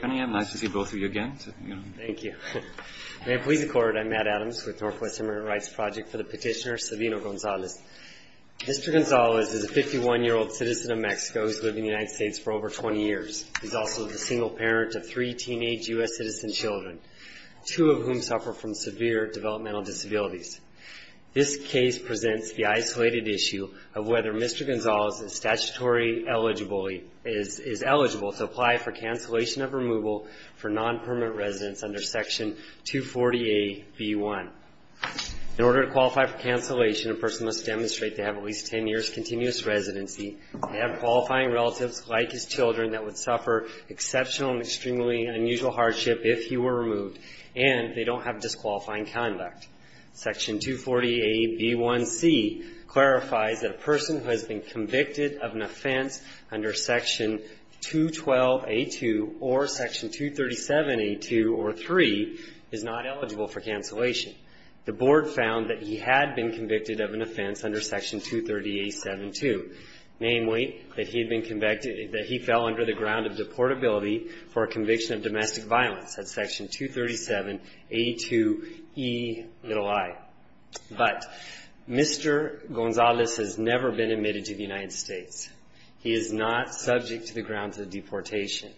May I please record, I'm Matt Adams with Northwest Immigrant Rights Project for the petitioner Savino-Gonzalez. Mr. Gonzalez is a 51-year-old citizen of Mexico who's lived in the United States for over 20 years. He's also the single parent of three teenage U.S. citizen children, two of whom suffer from severe developmental disabilities. This case presents the isolated issue of whether Mr. Gonzalez is eligible to apply for cancellation of removal for non-permanent residence under Section 240A.B.1. In order to qualify for cancellation, a person must demonstrate they have at least 10 years continuous residency, they have qualifying relatives like his children that would suffer exceptional and extremely unusual hardship if he were has been convicted of an offense under Section 212A.2 or Section 237A.2 or 3 is not eligible for cancellation. The board found that he had been convicted of an offense under Section 230A.7.2, namely that he had been convicted, that he fell under the ground of deportability for a conviction of domestic violence at Section 237A.2.E.i. But Mr. Gonzalez has never been admitted to the United States. He is not subject to the grounds of deportation.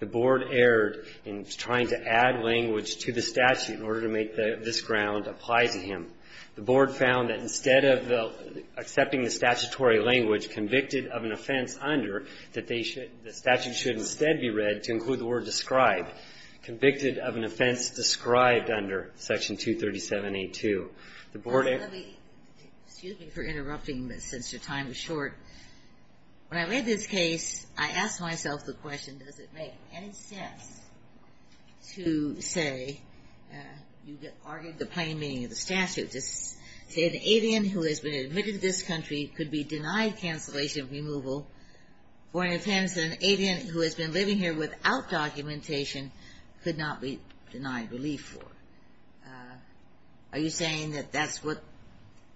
The board erred in trying to add language to the statute in order to make this ground apply to him. The board found that instead of accepting the statutory language, convicted of an offense under, that they should, the statute should instead be read to include the word described. Convicted of an offense described under Section 237A.2. The board erred. MS. MOSS III Excuse me for interrupting, but since your time is short. When I read this case, I asked myself the question, does it make any sense to say, you argued the plain meaning of the statute, to say an avian who has been admitted to this country could be found inadmissible for deportation and removal for an offense, and an avian who has been living here without documentation could not be denied relief for? Are you saying that that's what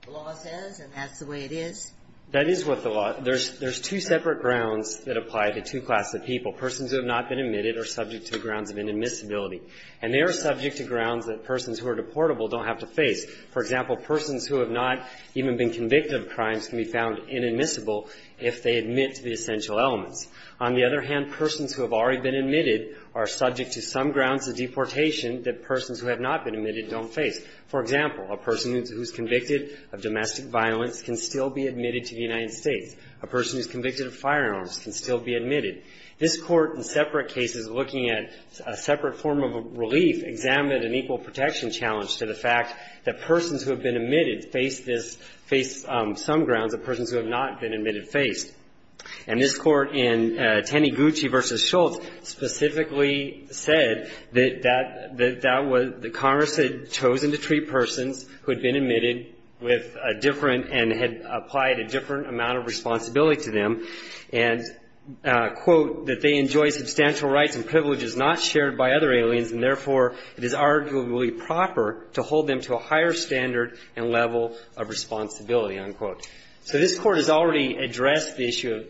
the law says, and that's the way it is? MR. BARROWS That is what the law says. There's two separate grounds that apply to two classes of people. Persons who have not been admitted are subject to the grounds of inadmissibility. And they are subject to grounds that persons who are deportable don't have to face. For example, persons who have not even been convicted of crimes can be found inadmissible if they admit to the essential elements. On the other hand, persons who have already been admitted are subject to some grounds of deportation that persons who have not been admitted don't face. For example, a person who's convicted of domestic violence can still be admitted to the United States. A person who's convicted of firearms can still be admitted. This Court, in separate cases looking at a separate form of relief, examined an equal protection challenge to the fact that persons who have been admitted face this, face some grounds that persons who have not been admitted face. And this Court, in Teneguchi v. Schultz, specifically said that that was, that Congress had chosen to treat persons who had been admitted with a different and had applied a different amount of responsibility to them and, quote, that they enjoy substantial rights and privileges not shared by other aliens and, therefore, it is arguably proper to hold them to a higher standard and level of responsibility, unquote. So this Court has already addressed the issue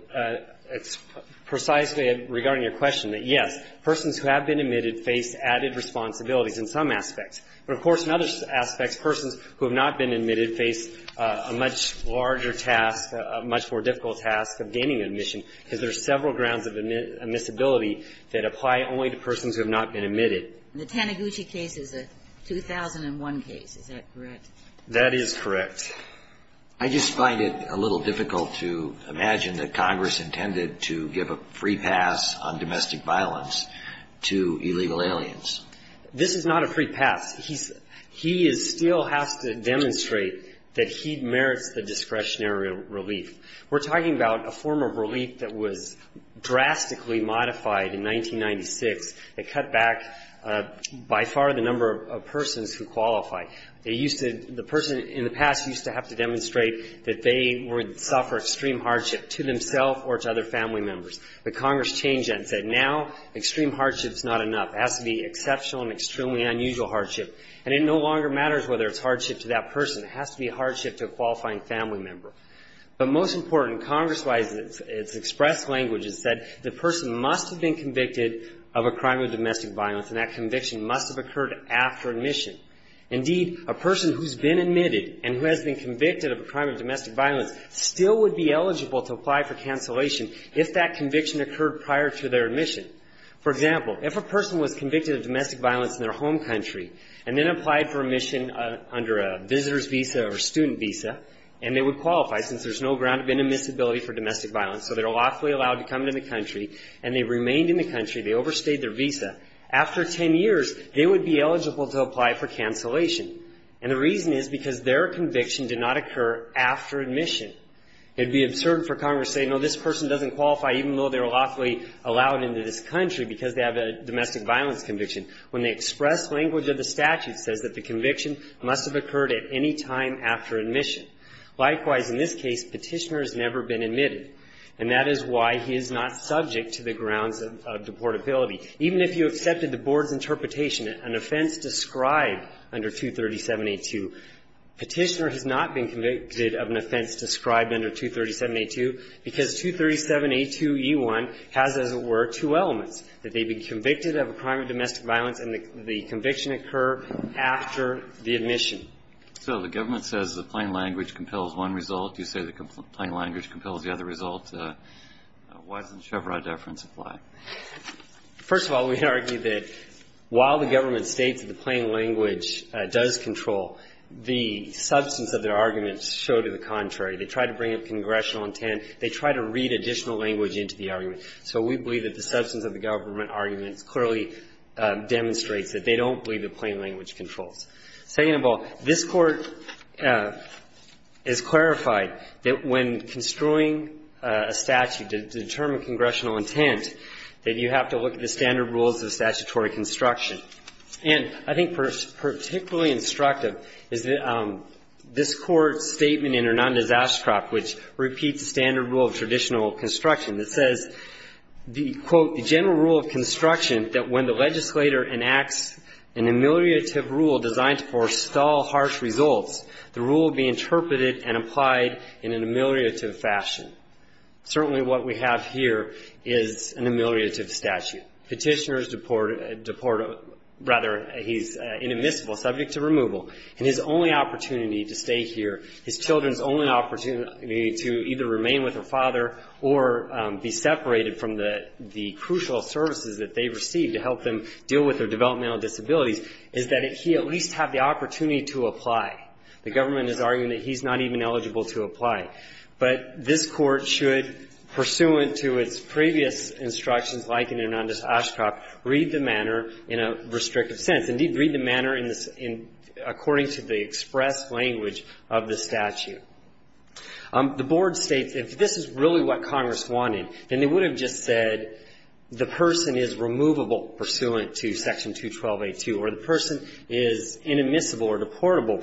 precisely regarding your question, that, yes, persons who have been admitted face added responsibilities in some aspects. But, of course, in other aspects, persons who have not been admitted face a much larger task, a much more difficult task of gaining admission, because there are several grounds of admissibility that apply only to persons who have not been admitted. The Teneguchi case is a 2001 case. Is that correct? That is correct. I just find it a little difficult to imagine that Congress intended to give a free pass on domestic violence to illegal aliens. This is not a free pass. He is still has to demonstrate that he merits the discretionary relief. We're talking about a form of relief that was drastically modified in 1996 that cut back by far the number of persons who qualify. They used to the person in the past used to have to demonstrate that they would suffer extreme hardship to themselves or to other family members. But Congress changed that and said now extreme hardship is not enough. It has to be exceptional and extremely unusual hardship. And it no longer matters whether it's hardship to that person. It has to be hardship to a qualifying family member. But most important, Congress-wise, it's expressed language. It said the person must have been convicted of a crime of domestic violence, and that conviction must have occurred after admission. Indeed, a person who's been admitted and who has been convicted of a crime of domestic violence still would be eligible to apply for cancellation if that conviction occurred prior to their admission. For example, if a person was convicted of domestic violence in their home country and then applied for admission under a visitor's visa or student visa, and they would qualify since there's no ground of inadmissibility for domestic violence. So they're lawfully allowed to come into the country, and they remained in the country. They overstayed their visa. After 10 years, they would be eligible to apply for cancellation. And the reason is because their conviction did not occur after admission. It would be absurd for Congress to say, no, this person doesn't qualify even though they're lawfully allowed into this country because they have a statute that says that the conviction must have occurred at any time after admission. Likewise, in this case, Petitioner has never been admitted, and that is why he is not subject to the grounds of deportability. Even if you accepted the Board's interpretation, an offense described under 237A2, Petitioner has not been convicted of an offense described under 237A2 because 237A2e1 has, as it were, two elements, that they've been convicted of a crime of domestic violence and the conviction did not occur after the admission. Kennedy. So the government says the plain language compels one result. You say the plain language compels the other result. Why doesn't the Chevron deference apply? First of all, we argue that while the government states that the plain language does control, the substance of their arguments show to the contrary. They try to bring up congressional intent. They try to read additional language into the argument. So we believe that the substance of the government arguments clearly demonstrates that they don't believe the plain language controls. Second of all, this Court has clarified that when construing a statute to determine congressional intent, that you have to look at the standard rules of statutory construction. And I think particularly instructive is that this Court's statement which repeats the standard rule of traditional construction that says, Certainly what we have here is an ameliorative statute. Petitioner is deported or rather he's inadmissible, subject to removal, and his only opportunity to stay here, his children's only opportunity to either remain with their father or be separated from the crucial services that they receive to help them deal with their developmental disabilities, is that he at least have the opportunity to apply. The government is arguing that he's not even eligible to apply. But this Court should, pursuant to its previous instructions, like in Hernandez-Oshkoff, read the manner in a restrictive sense. Indeed, read the manner according to the express language of the statute. The Board states if this is really what Congress wanted, then they would have just said the person is removable pursuant to Section 212.82 or the person is inadmissible or deportable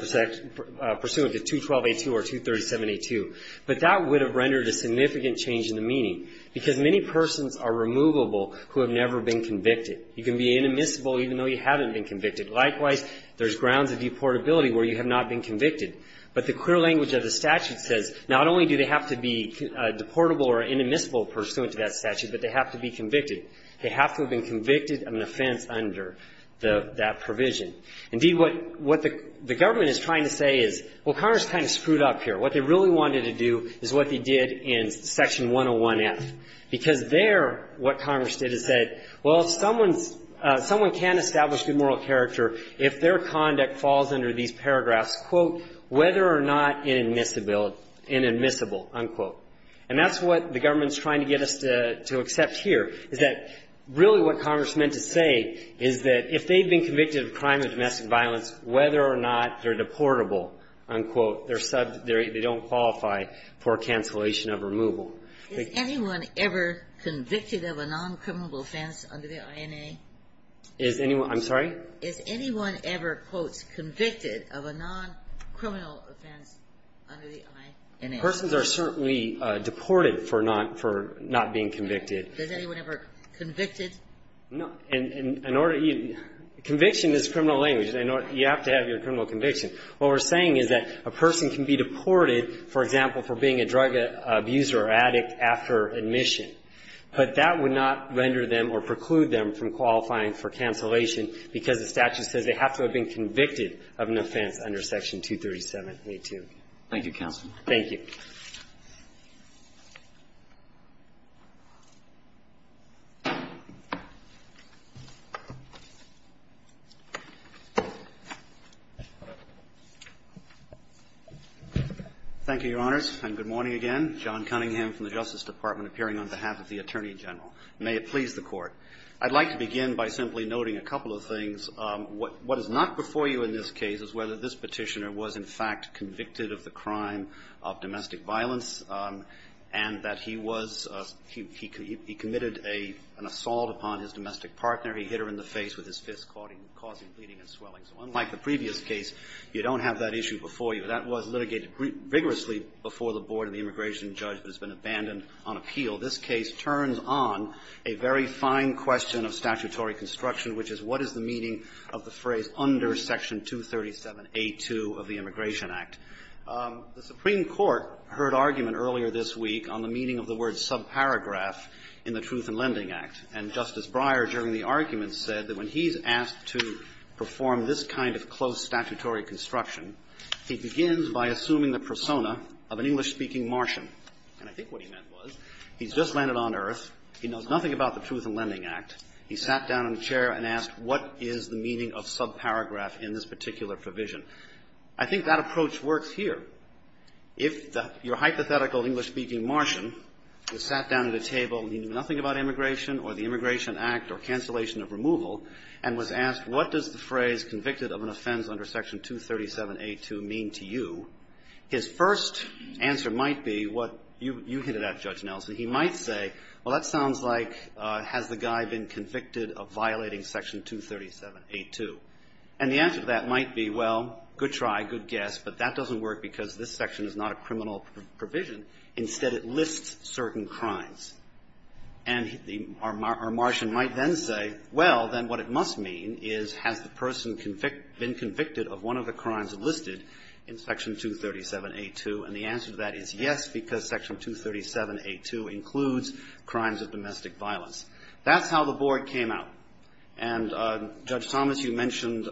pursuant to 212.82 or 237.82. But that would have rendered a significant change in the meaning because many persons are removable who have never been convicted. You can be inadmissible even though you haven't been convicted. Likewise, there's grounds of deportability where you have not been convicted. But the clear language of the statute says not only do they have to be deportable or inadmissible pursuant to that statute, but they have to be convicted. They have to have been convicted of an offense under that provision. Indeed, what the government is trying to say is, well, Congress kind of screwed up here. What they really wanted to do is what they did in Section 101F, because there what someone can establish good moral character if their conduct falls under these paragraphs, quote, whether or not inadmissible, unquote. And that's what the government is trying to get us to accept here, is that really what Congress meant to say is that if they've been convicted of a crime of domestic violence, whether or not they're deportable, unquote, they don't qualify for cancellation of removal. Is anyone ever convicted of a non-criminal offense under the INA? Is anyone? I'm sorry? Is anyone ever, quote, convicted of a non-criminal offense under the INA? Persons are certainly deported for not being convicted. Is anyone ever convicted? No. Conviction is criminal language. You have to have your criminal conviction. What we're saying is that a person can be deported, for example, for being a drug abuser or addict after admission. But that would not render them or preclude them from qualifying for cancellation because the statute says they have to have been convicted of an offense under Section 237.82. Thank you, counsel. Thank you. Thank you, Your Honors. And good morning again. John Cunningham from the Justice Department appearing on behalf of the Attorney General. May it please the Court. I'd like to begin by simply noting a couple of things. What is not before you in this case is whether this Petitioner was, in fact, convicted of the crime of domestic violence and that he was he committed an assault upon his domestic partner. He hit her in the face with his fist, causing bleeding and swelling. So unlike the previous case, you don't have that issue before you. That was litigated vigorously before the Board of the Immigration Judge but has been abandoned on appeal. This case turns on a very fine question of statutory construction, which is what is the meaning of the phrase under Section 237.82 of the Immigration Act. The Supreme Court heard argument earlier this week on the meaning of the word subparagraph in the Truth in Lending Act, and Justice Breyer, during the argument, said that when he's asked to perform this kind of close statutory construction, he begins by assuming the persona of an English-speaking Martian. And I think what he meant was he's just landed on earth. He knows nothing about the Truth in Lending Act. He sat down in a chair and asked what is the meaning of subparagraph in this particular provision. I think that approach works here. If your hypothetical English-speaking Martian was sat down at a table and he knew nothing about immigration or the Immigration Act or cancellation of removal and was asked what does the phrase convicted of an offense under Section 237.82 mean to you, his first answer might be what you hit it at, Judge Nelson. He might say, well, that sounds like has the guy been convicted of violating Section 237.82. And the answer to that might be, well, good try, good guess, but that doesn't work because this section is not a criminal provision. Instead, it lists certain crimes. And our Martian might then say, well, then what it must mean is has the person been convicted of one of the crimes listed in Section 237.82. And the answer to that is yes, because Section 237.82 includes crimes of domestic violence. That's how the Board came out. And, Judge Thomas, you mentioned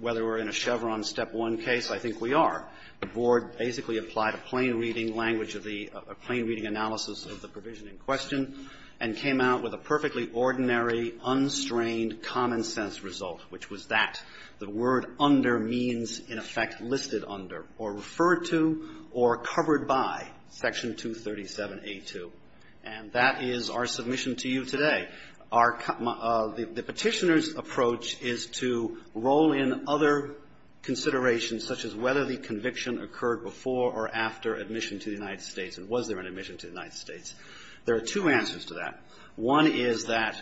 whether we're in a Chevron Step 1 case. I think we are. The Board basically applied a plain reading language of the plain reading analysis of the provision in question and came out with a perfectly ordinary, unstrained common sense result, which was that the word under means, in effect, listed under or referred to or covered by Section 237.82. And that is our submission to you today. The Petitioner's approach is to roll in other considerations, such as whether the conviction occurred before or after admission to the United States and was there an admission to the United States. There are two answers to that. One is that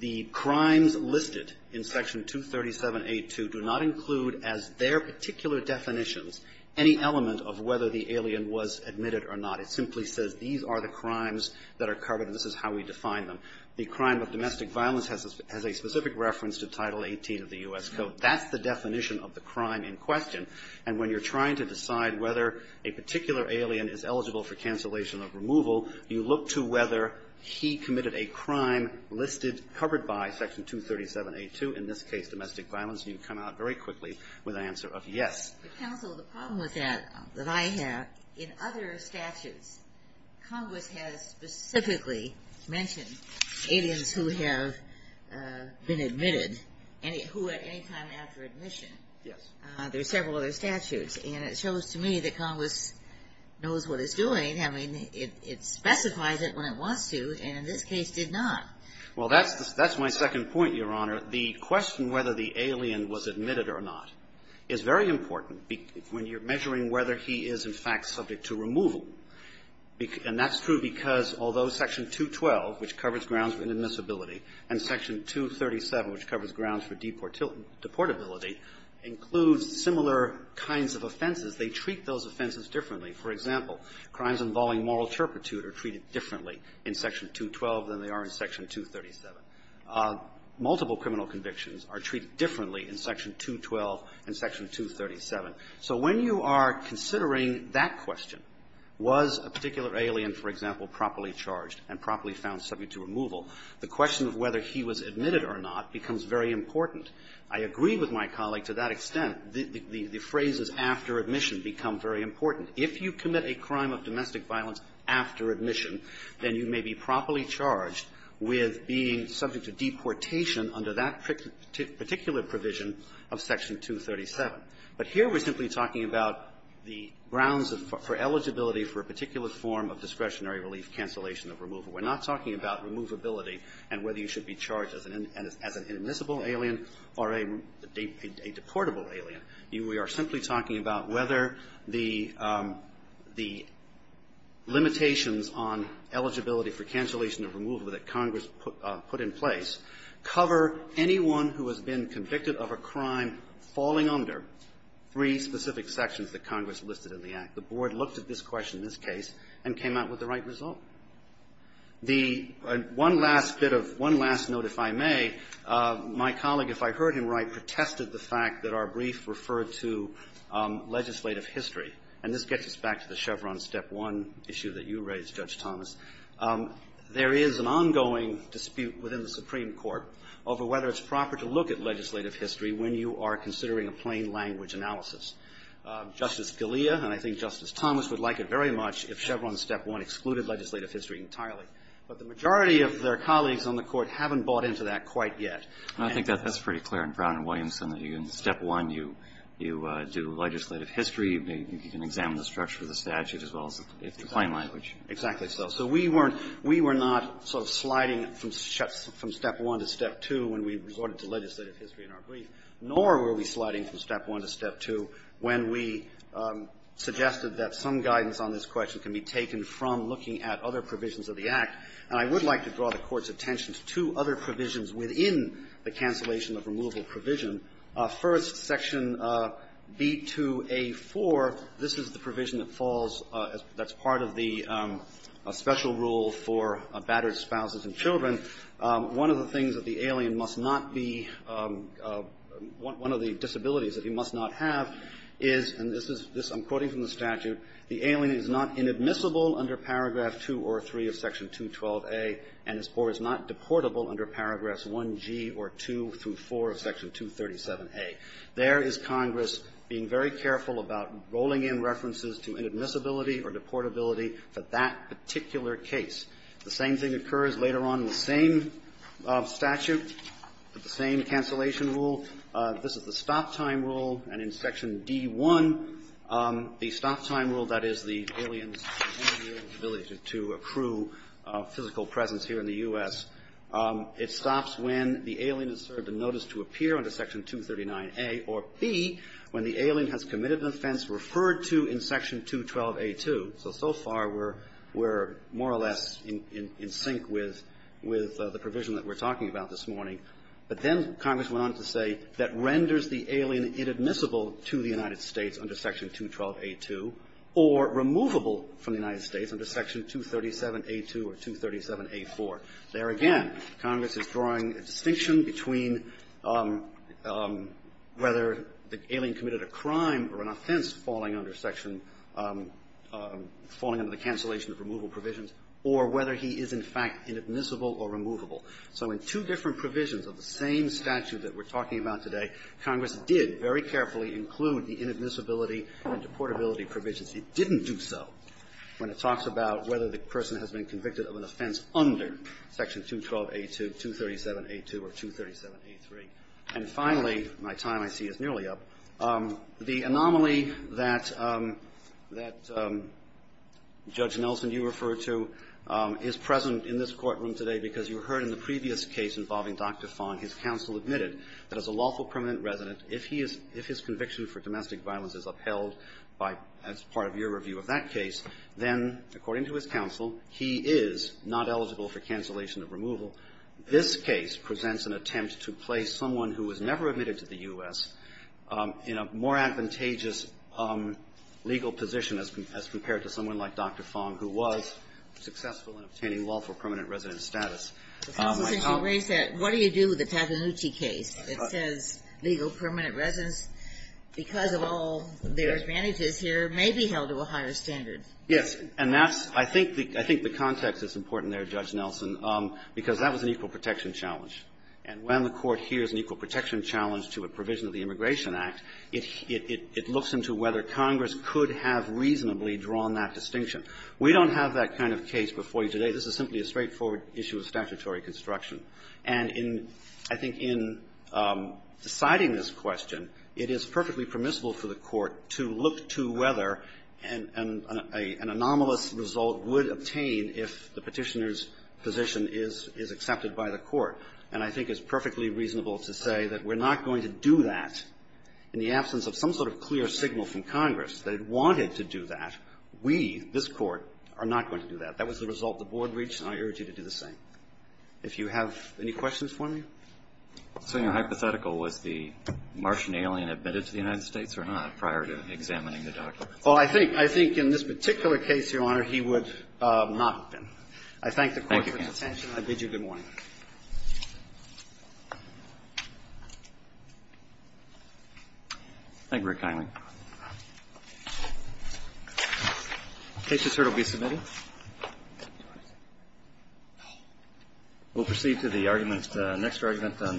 the crimes listed in Section 237.82 do not include as their particular definitions any element of whether the alien was admitted or not. It simply says these are the crimes that are covered and this is how we define them. The crime of domestic violence has a specific reference to Title 18 of the U.S. Code. That's the definition of the crime in question. And when you're trying to decide whether a particular alien is eligible for cancellation or removal, you look to whether he committed a crime listed, covered by Section 237.82, in this case domestic violence, and you come out very quickly with an answer of yes. The problem with that, that I have, in other statutes, Congress has specifically mentioned aliens who have been admitted, who at any time after admission. Yes. There are several other statutes, and it shows to me that Congress knows what it's doing, I mean, it specifies it when it wants to, and in this case did not. Well, that's my second point, Your Honor. The question whether the alien was admitted or not is very important when you're measuring whether he is, in fact, subject to removal. And that's true because although Section 212, which covers grounds for inadmissibility, and Section 237, which covers grounds for deportability, includes similar kinds of offenses, they treat those offenses differently. For example, crimes involving moral turpitude are treated differently in Section 212 than they are in Section 237. Multiple criminal convictions are treated differently in Section 212 and Section 237. So when you are considering that question, was a particular alien, for example, properly charged and properly found subject to removal, the question of whether he was admitted or not becomes very important. I agree with my colleague to that extent. The phrases after admission become very important. If you commit a crime of domestic violence after admission, then you may be properly charged with being subject to deportation under that particular provision of Section 237. But here we're simply talking about the grounds for eligibility for a particular form of discretionary relief cancellation of removal. We're not talking about removability and whether you should be charged as an inadmissible alien or a deportable alien. We are simply talking about whether the limitations on eligibility for cancellation of removal that Congress put in place cover anyone who has been convicted of a crime falling under three specific sections that Congress listed in the Act. The Board looked at this question in this case and came out with the right result. The one last bit of one last note, if I may, my colleague, if I heard him right, protested the fact that our brief referred to legislative history. And this gets us back to the Chevron Step 1 issue that you raised, Judge Thomas. There is an ongoing dispute within the Supreme Court over whether it's proper to look at legislative history when you are considering a plain language analysis. Justice Scalia and I think Justice Thomas would like it very much if Chevron Step 1 excluded legislative history entirely. But the majority of their colleagues on the Court haven't bought into that quite yet. And I think that's pretty clear. I'm proud of Williamson that in Step 1 you do legislative history, you can examine the structure of the statute as well as the plain language. Exactly so. So we weren't we were not sort of sliding from Step 1 to Step 2 when we resorted to legislative history in our brief, nor were we sliding from Step 1 to Step 2 when we suggested that some guidance on this question can be taken from looking at other provisions of the Act. And I would like to draw the Court's attention to two other provisions within the cancellation of removal provision. First, Section B2A4, this is the provision that falls as part of the special rule for battered spouses and children. One of the things that the alien must not be one of the disabilities that he must not have is, and this is this I'm quoting from the statute, the alien is not inadmissible under Paragraph 2 or 3 of Section 212a and is not deportable under Paragraphs 1g or 2 through 4 of Section 237a. There is Congress being very careful about rolling in references to inadmissibility or deportability for that particular case. The same thing occurs later on in the same statute, the same cancellation rule. This is the stop-time rule. And in Section D1, the stop-time rule, that is, the alien's inability to accrue physical presence here in the U.S., it stops when the alien is served a notice to appear under Section 239a or b, when the alien has committed an offense referred to in Section 212a2. So, so far, we're more or less in sync with the provision that we're talking about this morning. But then Congress went on to say that renders the alien inadmissible to the United States under Section 212a2 or removable from the United States under Section 237a2 or 237a4. There again, Congress is drawing a distinction between whether the alien committed a crime or an offense falling under Section – falling under the cancellation of removal provisions or whether he is, in fact, inadmissible or removable. So in two different provisions of the same statute that we're talking about today, Congress did very carefully include the inadmissibility and deportability provisions. It didn't do so when it talks about whether the person has been convicted of an offense under Section 212a2, 237a2, or 237a3. And finally, my time, I see, is nearly up. The anomaly that – that Judge Nelson, you referred to, is present in this courtroom today because you heard in the previous case involving Dr. Fong, his counsel admitted that as a lawful permanent resident, if he is – if his conviction for domestic violence is upheld by – as part of your review of that case, then, according to his counsel, he is not eligible for cancellation of removal. This case presents an attempt to place someone who was never admitted to the U.S. in a more advantageous legal position as compared to someone like Dr. Fong, who was successful in obtaining lawful permanent resident status. The Constitution raised that. What do you do with the Tappanucci case? It says legal permanent residents, because of all their advantages here, may be held to a higher standard. Yes. And that's – I think the – I think the context is important there, Judge Nelson, because that was an equal protection challenge. And when the Court hears an equal protection challenge to a provision of the Immigration Act, it – it – it looks into whether Congress could have reasonably drawn that distinction. We don't have that kind of case before you today. This is simply a straightforward issue of statutory construction. And in – I think in deciding this question, it is perfectly permissible for the Court to look to whether an – an anomalous result would obtain if the Petitioner's position is – is accepted by the Court. And I think it's perfectly reasonable to say that we're not going to do that in the absence of some sort of clear signal from Congress that it wanted to do that. We, this Court, are not going to do that. That was the result the Board reached, and I urge you to do the same. If you have any questions for me. So, you know, hypothetical, was the Martian alien admitted to the United States or not prior to examining the documents? Well, I think – I think in this particular case, Your Honor, he would not have been. I thank the Court for its attention. Thank you, counsel. I bid you good morning. Thank you. Thank you very kindly. The case is here to be submitted. We'll proceed to the argument – the next argument on the